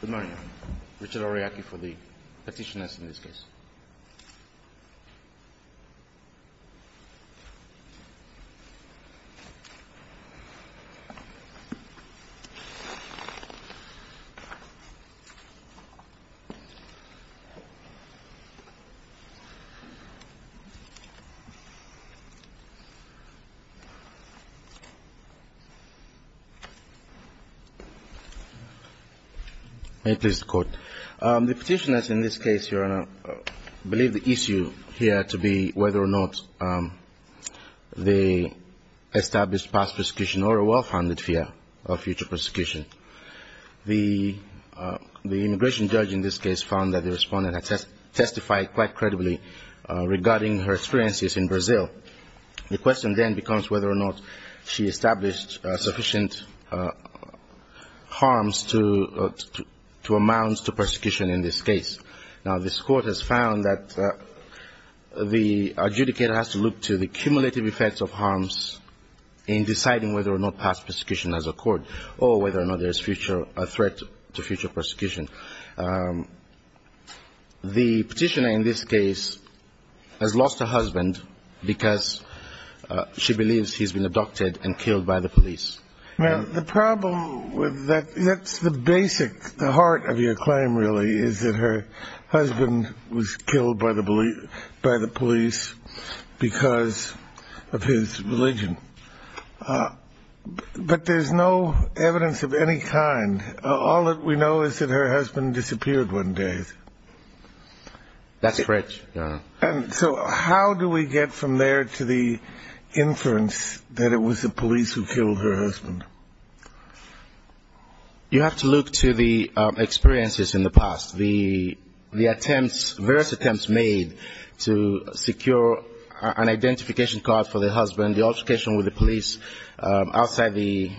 Good morning, I am Richard Ariake for the Petitioners in this case. The Petitioners in this case, Your Honor, believe the issue here to be whether or not they established past persecution or a well-founded fear of future persecution. The immigration judge in this case found that the respondent had testified quite credibly regarding her experiences in Brazil. The question then becomes whether or not she established sufficient harms to amount to persecution in this case. Now, this court has found that the adjudicator has to look to the cumulative effects of harms in deciding whether or not past persecution has occurred or whether or not there is future threat to future persecution. The petitioner in this case has lost her husband because she believes he's been abducted and killed by the police. Well, the problem with that, that's the basic, the heart of your claim, really, is that her husband was killed by the police because of his religion. But there's no evidence of any kind. All that we know is that her husband disappeared one day. That's correct, Your Honor. So how do we get from there to the inference that it was the police who killed her husband? You have to look to the experiences in the past, the attempts, various attempts made to secure an identification card for the husband. The altercation with the police outside the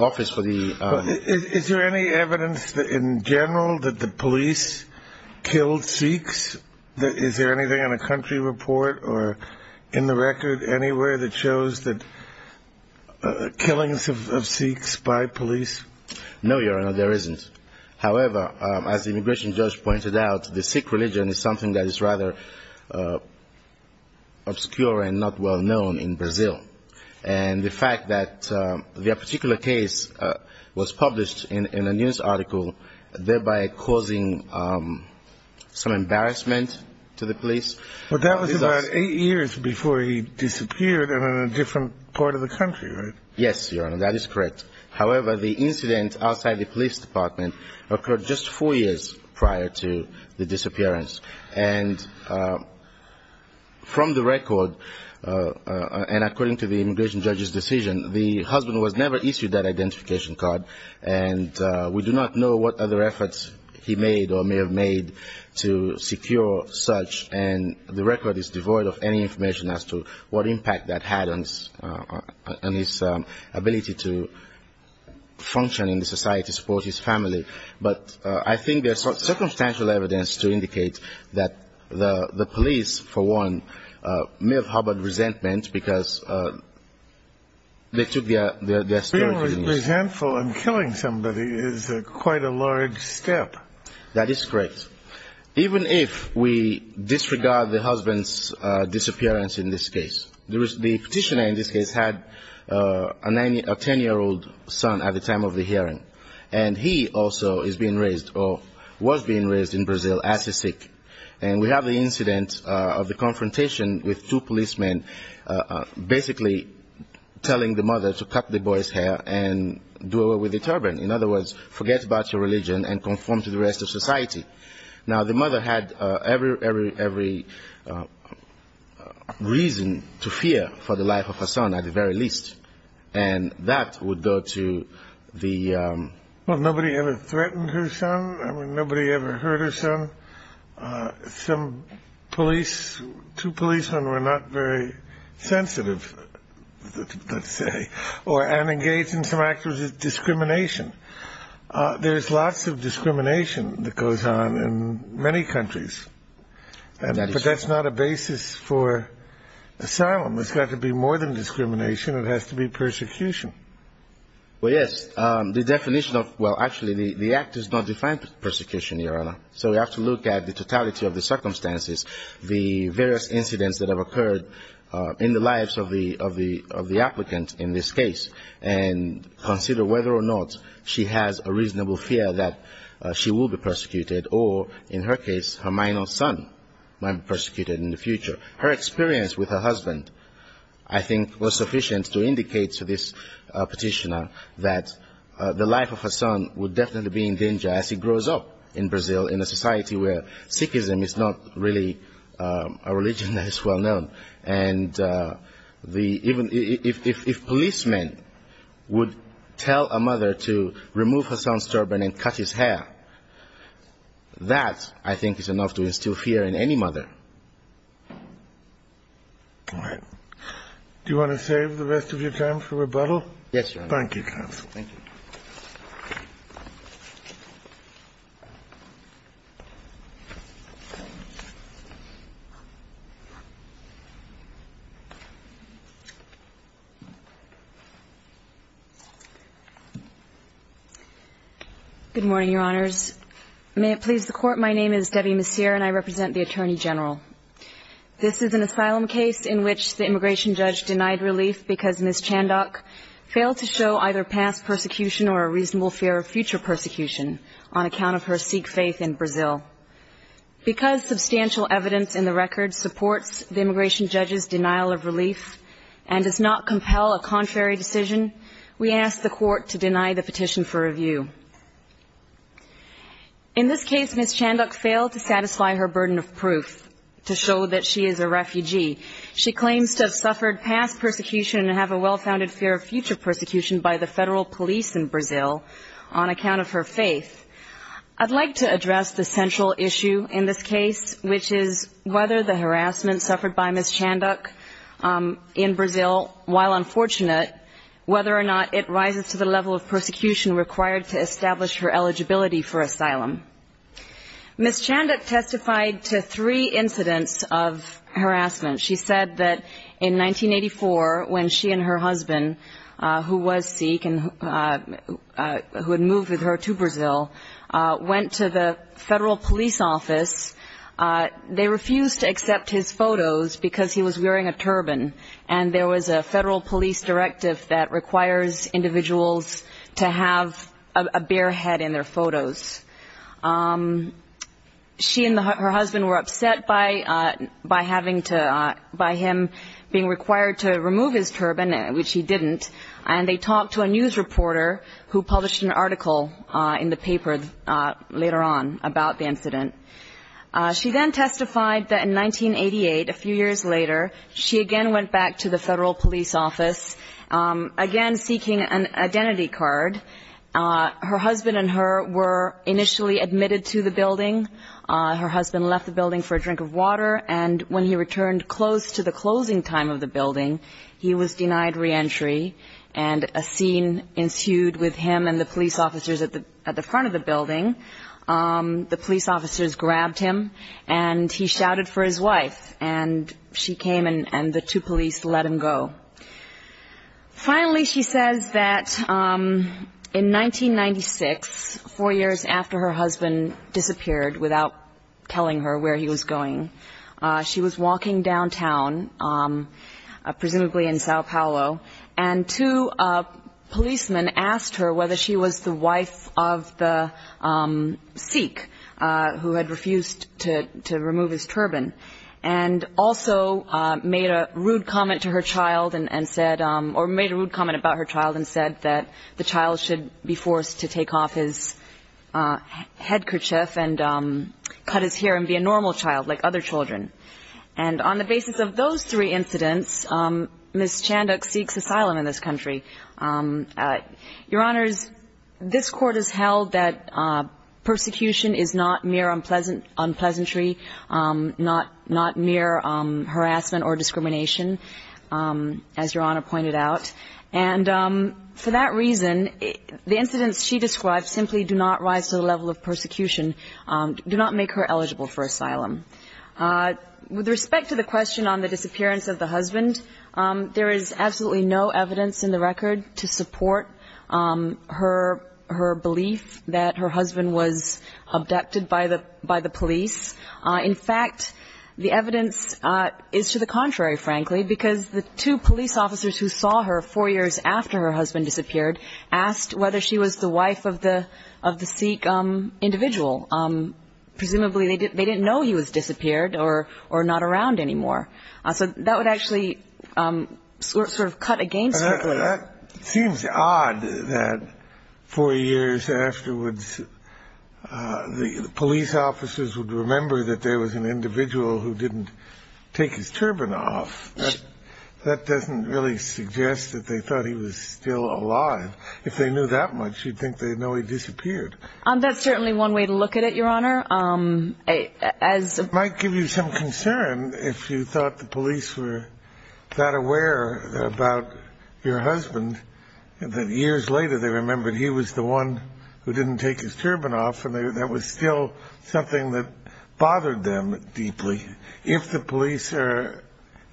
office. Is there any evidence in general that the police killed Sikhs? Is there anything in a country report or in the record anywhere that shows killings of Sikhs by police? No, Your Honor, there isn't. However, as the immigration judge pointed out, the Sikh religion is something that is rather obscure and not well known in Brazil. And the fact that their particular case was published in a news article, thereby causing some embarrassment to the police. But that was about eight years before he disappeared in a different part of the country, right? Yes, Your Honor, that is correct. However, the incident outside the police department occurred just four years prior to the disappearance. And from the record and according to the immigration judge's decision, the husband was never issued that identification card. And we do not know what other efforts he made or may have made to secure such. And the record is devoid of any information as to what impact that had on his ability to function in society, support his family. But I think there's circumstantial evidence to indicate that the police, for one, may have harbored resentment because they took their spirit. Being resentful and killing somebody is quite a large step. That is correct. Even if we disregard the husband's disappearance in this case, the petitioner in this case had a 10-year-old son at the time of the hearing. And he also is being raised or was being raised in Brazil as a Sikh. And we have the incident of the confrontation with two policemen basically telling the mother to cut the boy's hair and do away with the turban. In other words, forget about your religion and conform to the rest of society. Now, the mother had every reason to fear for the life of her son at the very least. And that would go to the... Well, nobody ever threatened her son. I mean, nobody ever hurt her son. Some police, two policemen were not very sensitive, let's say, and engaged in some acts of discrimination. There's lots of discrimination that goes on in many countries. But that's not a basis for asylum. It's got to be more than discrimination. It has to be persecution. Well, yes. The definition of... Well, actually, the act does not define persecution, Your Honor. So we have to look at the totality of the circumstances, the various incidents that have occurred in the lives of the applicant in this case, and consider whether or not she has a reasonable fear that she will be persecuted or, in her case, her minor son might be persecuted in the future. Her experience with her husband, I think, was sufficient to indicate to this petitioner that the life of her son would definitely be in danger as he grows up in Brazil in a society where Sikhism is not really a religion that is well-known. And even if policemen would tell a mother to remove her son's turban and cut his hair, that, I think, is enough to instill fear in any mother. All right. Do you want to save the rest of your time for rebuttal? Yes, Your Honor. Thank you, counsel. Thank you. Good morning, Your Honors. May it please the Court, my name is Debbie Messier and I represent the Attorney General. This is an asylum case in which the immigration judge denied relief because Ms. Chandok failed to show either past persecution or a reasonable fear of future persecution on account of her Sikh faith in Brazil. Because substantial evidence in the record supports the immigration judge's denial of relief and does not compel a contrary decision, we ask the Court to deny the petition for review. In this case, Ms. Chandok failed to satisfy her burden of proof to show that she is a refugee. She claims to have suffered past persecution and have a well-founded fear of future persecution by the federal police in Brazil on account of her faith. I'd like to address the central issue in this case, which is whether the harassment suffered by Ms. Chandok in Brazil, while unfortunate, whether or not it rises to the level of persecution required to establish her eligibility for asylum. Ms. Chandok testified to three incidents of harassment. She said that in 1984, when she and her husband, who was Sikh and who had moved with her to Brazil, went to the federal police office, they refused to accept his photos because he was wearing a turban, and there was a federal police directive that requires individuals to have a bare head in their photos. She and her husband were upset by him being required to remove his turban, which he didn't, and they talked to a news reporter who published an article in the paper later on about the incident. She then testified that in 1988, a few years later, she again went back to the federal police office, again seeking an identity card. Her husband and her were initially admitted to the building. Her husband left the building for a drink of water, and when he returned close to the closing time of the building, he was denied reentry, and a scene ensued with him and the police officers at the front of the building. The police officers grabbed him, and he shouted for his wife, and she came and the two police let him go. Finally, she says that in 1996, four years after her husband disappeared without telling her where he was going, she was walking downtown, presumably in Sao Paulo, and two policemen asked her whether she was the wife of the Sikh who had refused to remove his turban and also made a rude comment to her child and said or made a rude comment about her child and said that the child should be forced to take off his headkerchief and cut his hair and be a normal child like other children. And on the basis of those three incidents, Ms. Chanduk seeks asylum in this country. Your Honors, this Court has held that persecution is not mere unpleasant, unpleasantry, not mere harassment or discrimination, as Your Honor pointed out, and for that reason, the incidents she described simply do not rise to the level of persecution, do not make her eligible for asylum. With respect to the question on the disappearance of the husband, there is absolutely no evidence in the record to support her belief that her husband was abducted by the police. In fact, the evidence is to the contrary, frankly, because the two police officers who saw her four years after her husband disappeared asked whether she was the wife of the Sikh individual. Presumably, they didn't know he was disappeared or not around anymore. So that would actually sort of cut against her belief. Well, that seems odd that four years afterwards, the police officers would remember that there was an individual who didn't take his turban off. That doesn't really suggest that they thought he was still alive. If they knew that much, you'd think they'd know he disappeared. That's certainly one way to look at it, Your Honor. It might give you some concern if you thought the police were that aware about your husband, that years later they remembered he was the one who didn't take his turban off, and that was still something that bothered them deeply. If the police are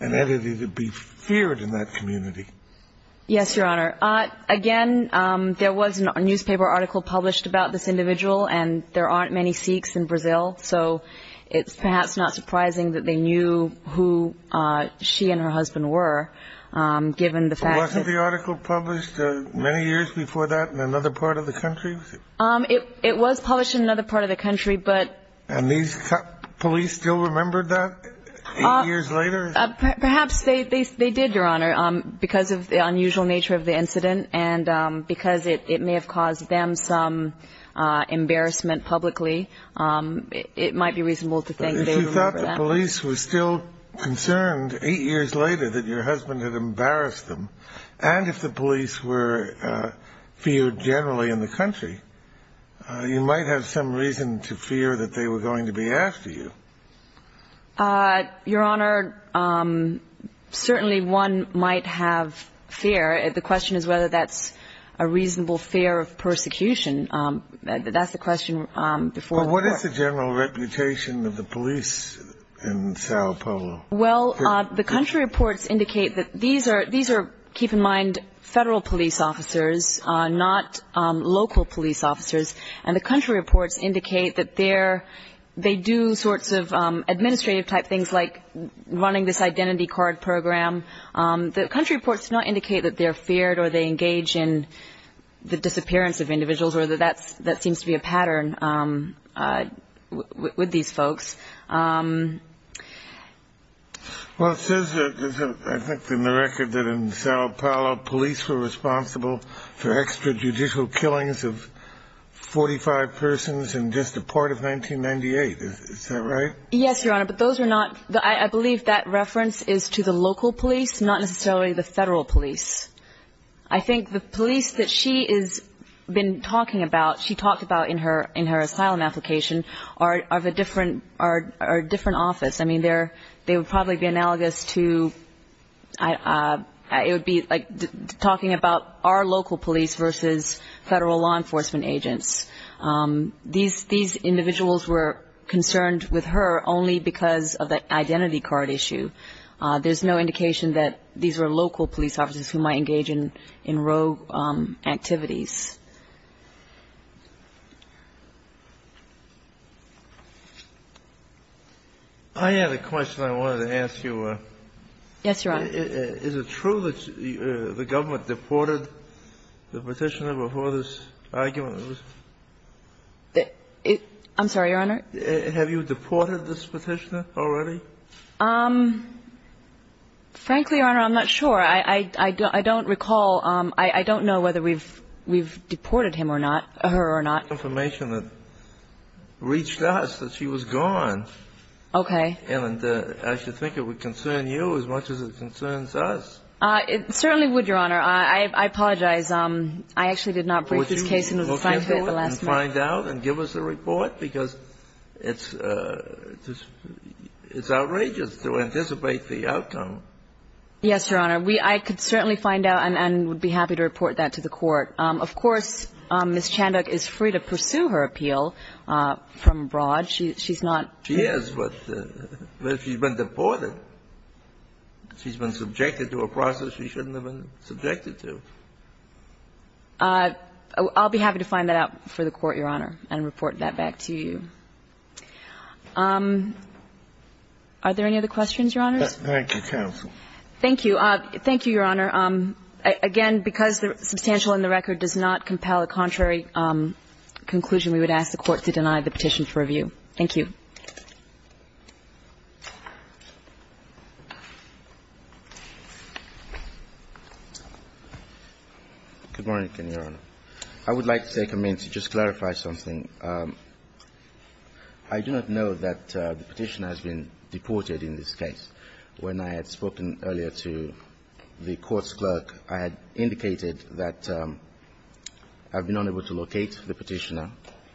an entity, they'd be feared in that community. Yes, Your Honor. Again, there was a newspaper article published about this individual, and there aren't many Sikhs in Brazil, so it's perhaps not surprising that they knew who she and her husband were, given the fact that— Wasn't the article published many years before that in another part of the country? It was published in another part of the country, but— And these police still remembered that years later? Perhaps they did, Your Honor, because of the unusual nature of the incident and because it may have caused them some embarrassment publicly. It might be reasonable to think they remember that. But if you thought the police were still concerned eight years later that your husband had embarrassed them, and if the police were feared generally in the country, you might have some reason to fear that they were going to be after you. Your Honor, certainly one might have fear. The question is whether that's a reasonable fear of persecution. That's the question before the court. But what is the general reputation of the police in Sao Paulo? Well, the country reports indicate that these are, keep in mind, federal police officers, not local police officers. And the country reports indicate that they do sorts of administrative-type things, like running this identity card program. The country reports do not indicate that they're feared or they engage in the disappearance of individuals, or that that seems to be a pattern with these folks. Well, it says, I think, in the record that in Sao Paulo, police were responsible for extrajudicial killings of 45 persons in just the part of 1998. Is that right? Yes, Your Honor. I believe that reference is to the local police, not necessarily the federal police. I think the police that she has been talking about, she talked about in her asylum application, are a different office. I mean, they would probably be analogous to, it would be like talking about our local police versus federal law enforcement agents. These individuals were concerned with her only because of the identity card issue. There's no indication that these were local police officers who might engage in rogue activities. I had a question I wanted to ask you. Yes, Your Honor. Is it true that the government deported the Petitioner before this argument? I'm sorry, Your Honor? Have you deported this Petitioner already? Frankly, Your Honor, I'm not sure. I don't recall. I don't know whether we've deported him or not, her or not. The information that reached us that she was gone. Okay. And I should think it would concern you as much as it concerns us. It certainly would, Your Honor. I apologize. I actually did not brief this case in the last month. Would you look at it and find out and give us a report? Because it's outrageous to anticipate the outcome. Yes, Your Honor. I could certainly find out and would be happy to report that to the Court. Of course, Ms. Chandler is free to pursue her appeal from abroad. She's not. She is, but she's been deported. She's been subjected to a process she shouldn't have been subjected to. I'll be happy to find that out for the Court, Your Honor, and report that back to you. Are there any other questions, Your Honors? Thank you, counsel. Thank you. Thank you, Your Honor. Again, because the substantial in the record does not compel a contrary conclusion, we would ask the Court to deny the petition for review. Thank you. Good morning, Your Honor. I would like to take a minute to just clarify something. I do not know that the petitioner has been deported in this case. When I had spoken earlier to the court's clerk, I had indicated that I've been unable to locate the petitioner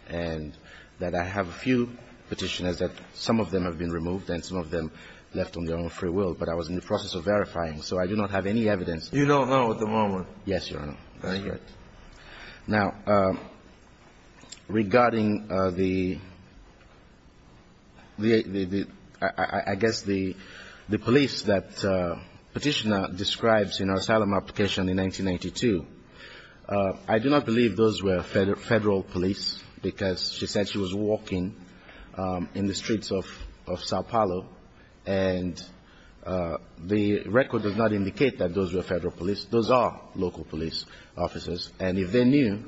and that I have a few petitioners that some of them have been removed and some of them left on their own free will, but I was in the process of verifying, so I do not have any evidence. You don't know at the moment? Yes, Your Honor. I hear it. Now, regarding the – I guess the police that petitioner describes in her asylum application in 1992, I do not believe those were Federal police, because she said she was walking in the streets of Sao Paolo, and the record does not indicate that those were Federal police. Those are local police officers, and if they knew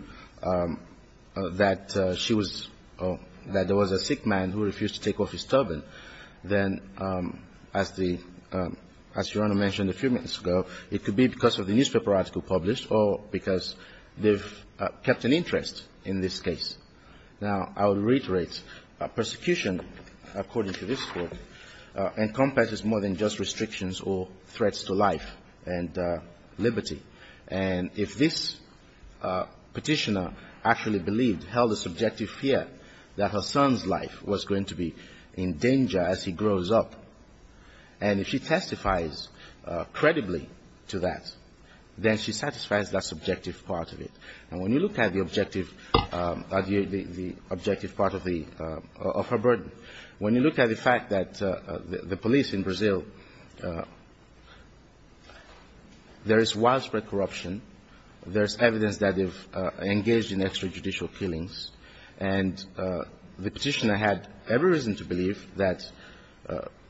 that she was – that there was a sick man who refused to take off his turban, then as the – as Your Honor mentioned a few minutes ago, it could be because of the newspaper article published or because they've kept an interest in this case. Now, I will reiterate. Persecution, according to this court, encompasses more than just restrictions or threats to life and liberty, and if this petitioner actually believed, held a subjective fear that her son's life was going to be in danger as he grows up, and if she testifies credibly to that, then she satisfies that subjective part of it. And when you look at the objective – the objective part of the – of her burden, when you look at the fact that the police in Brazil, there is widespread corruption, there's evidence that they've engaged in extrajudicial killings, and the petitioner had every reason to believe that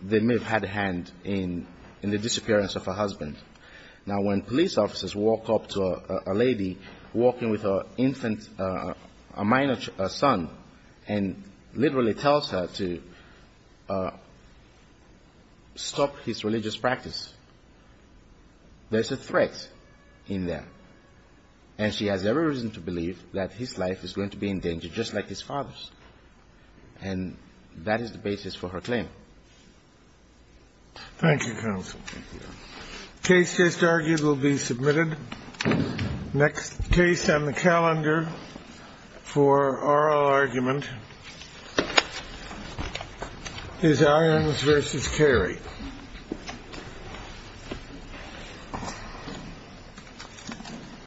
they may have had a hand in the disappearance of her husband. Now, when police officers walk up to a lady walking with her infant – a minor son and literally tells her to stop his religious practice, there's a threat in there. And she has every reason to believe that his life is going to be in danger, just like his father's. And that is the basis for her claim. Thank you, counsel. Thank you, Your Honor. The case just argued will be submitted. Next case on the calendar for oral argument is Irons v. Carey. Thank you.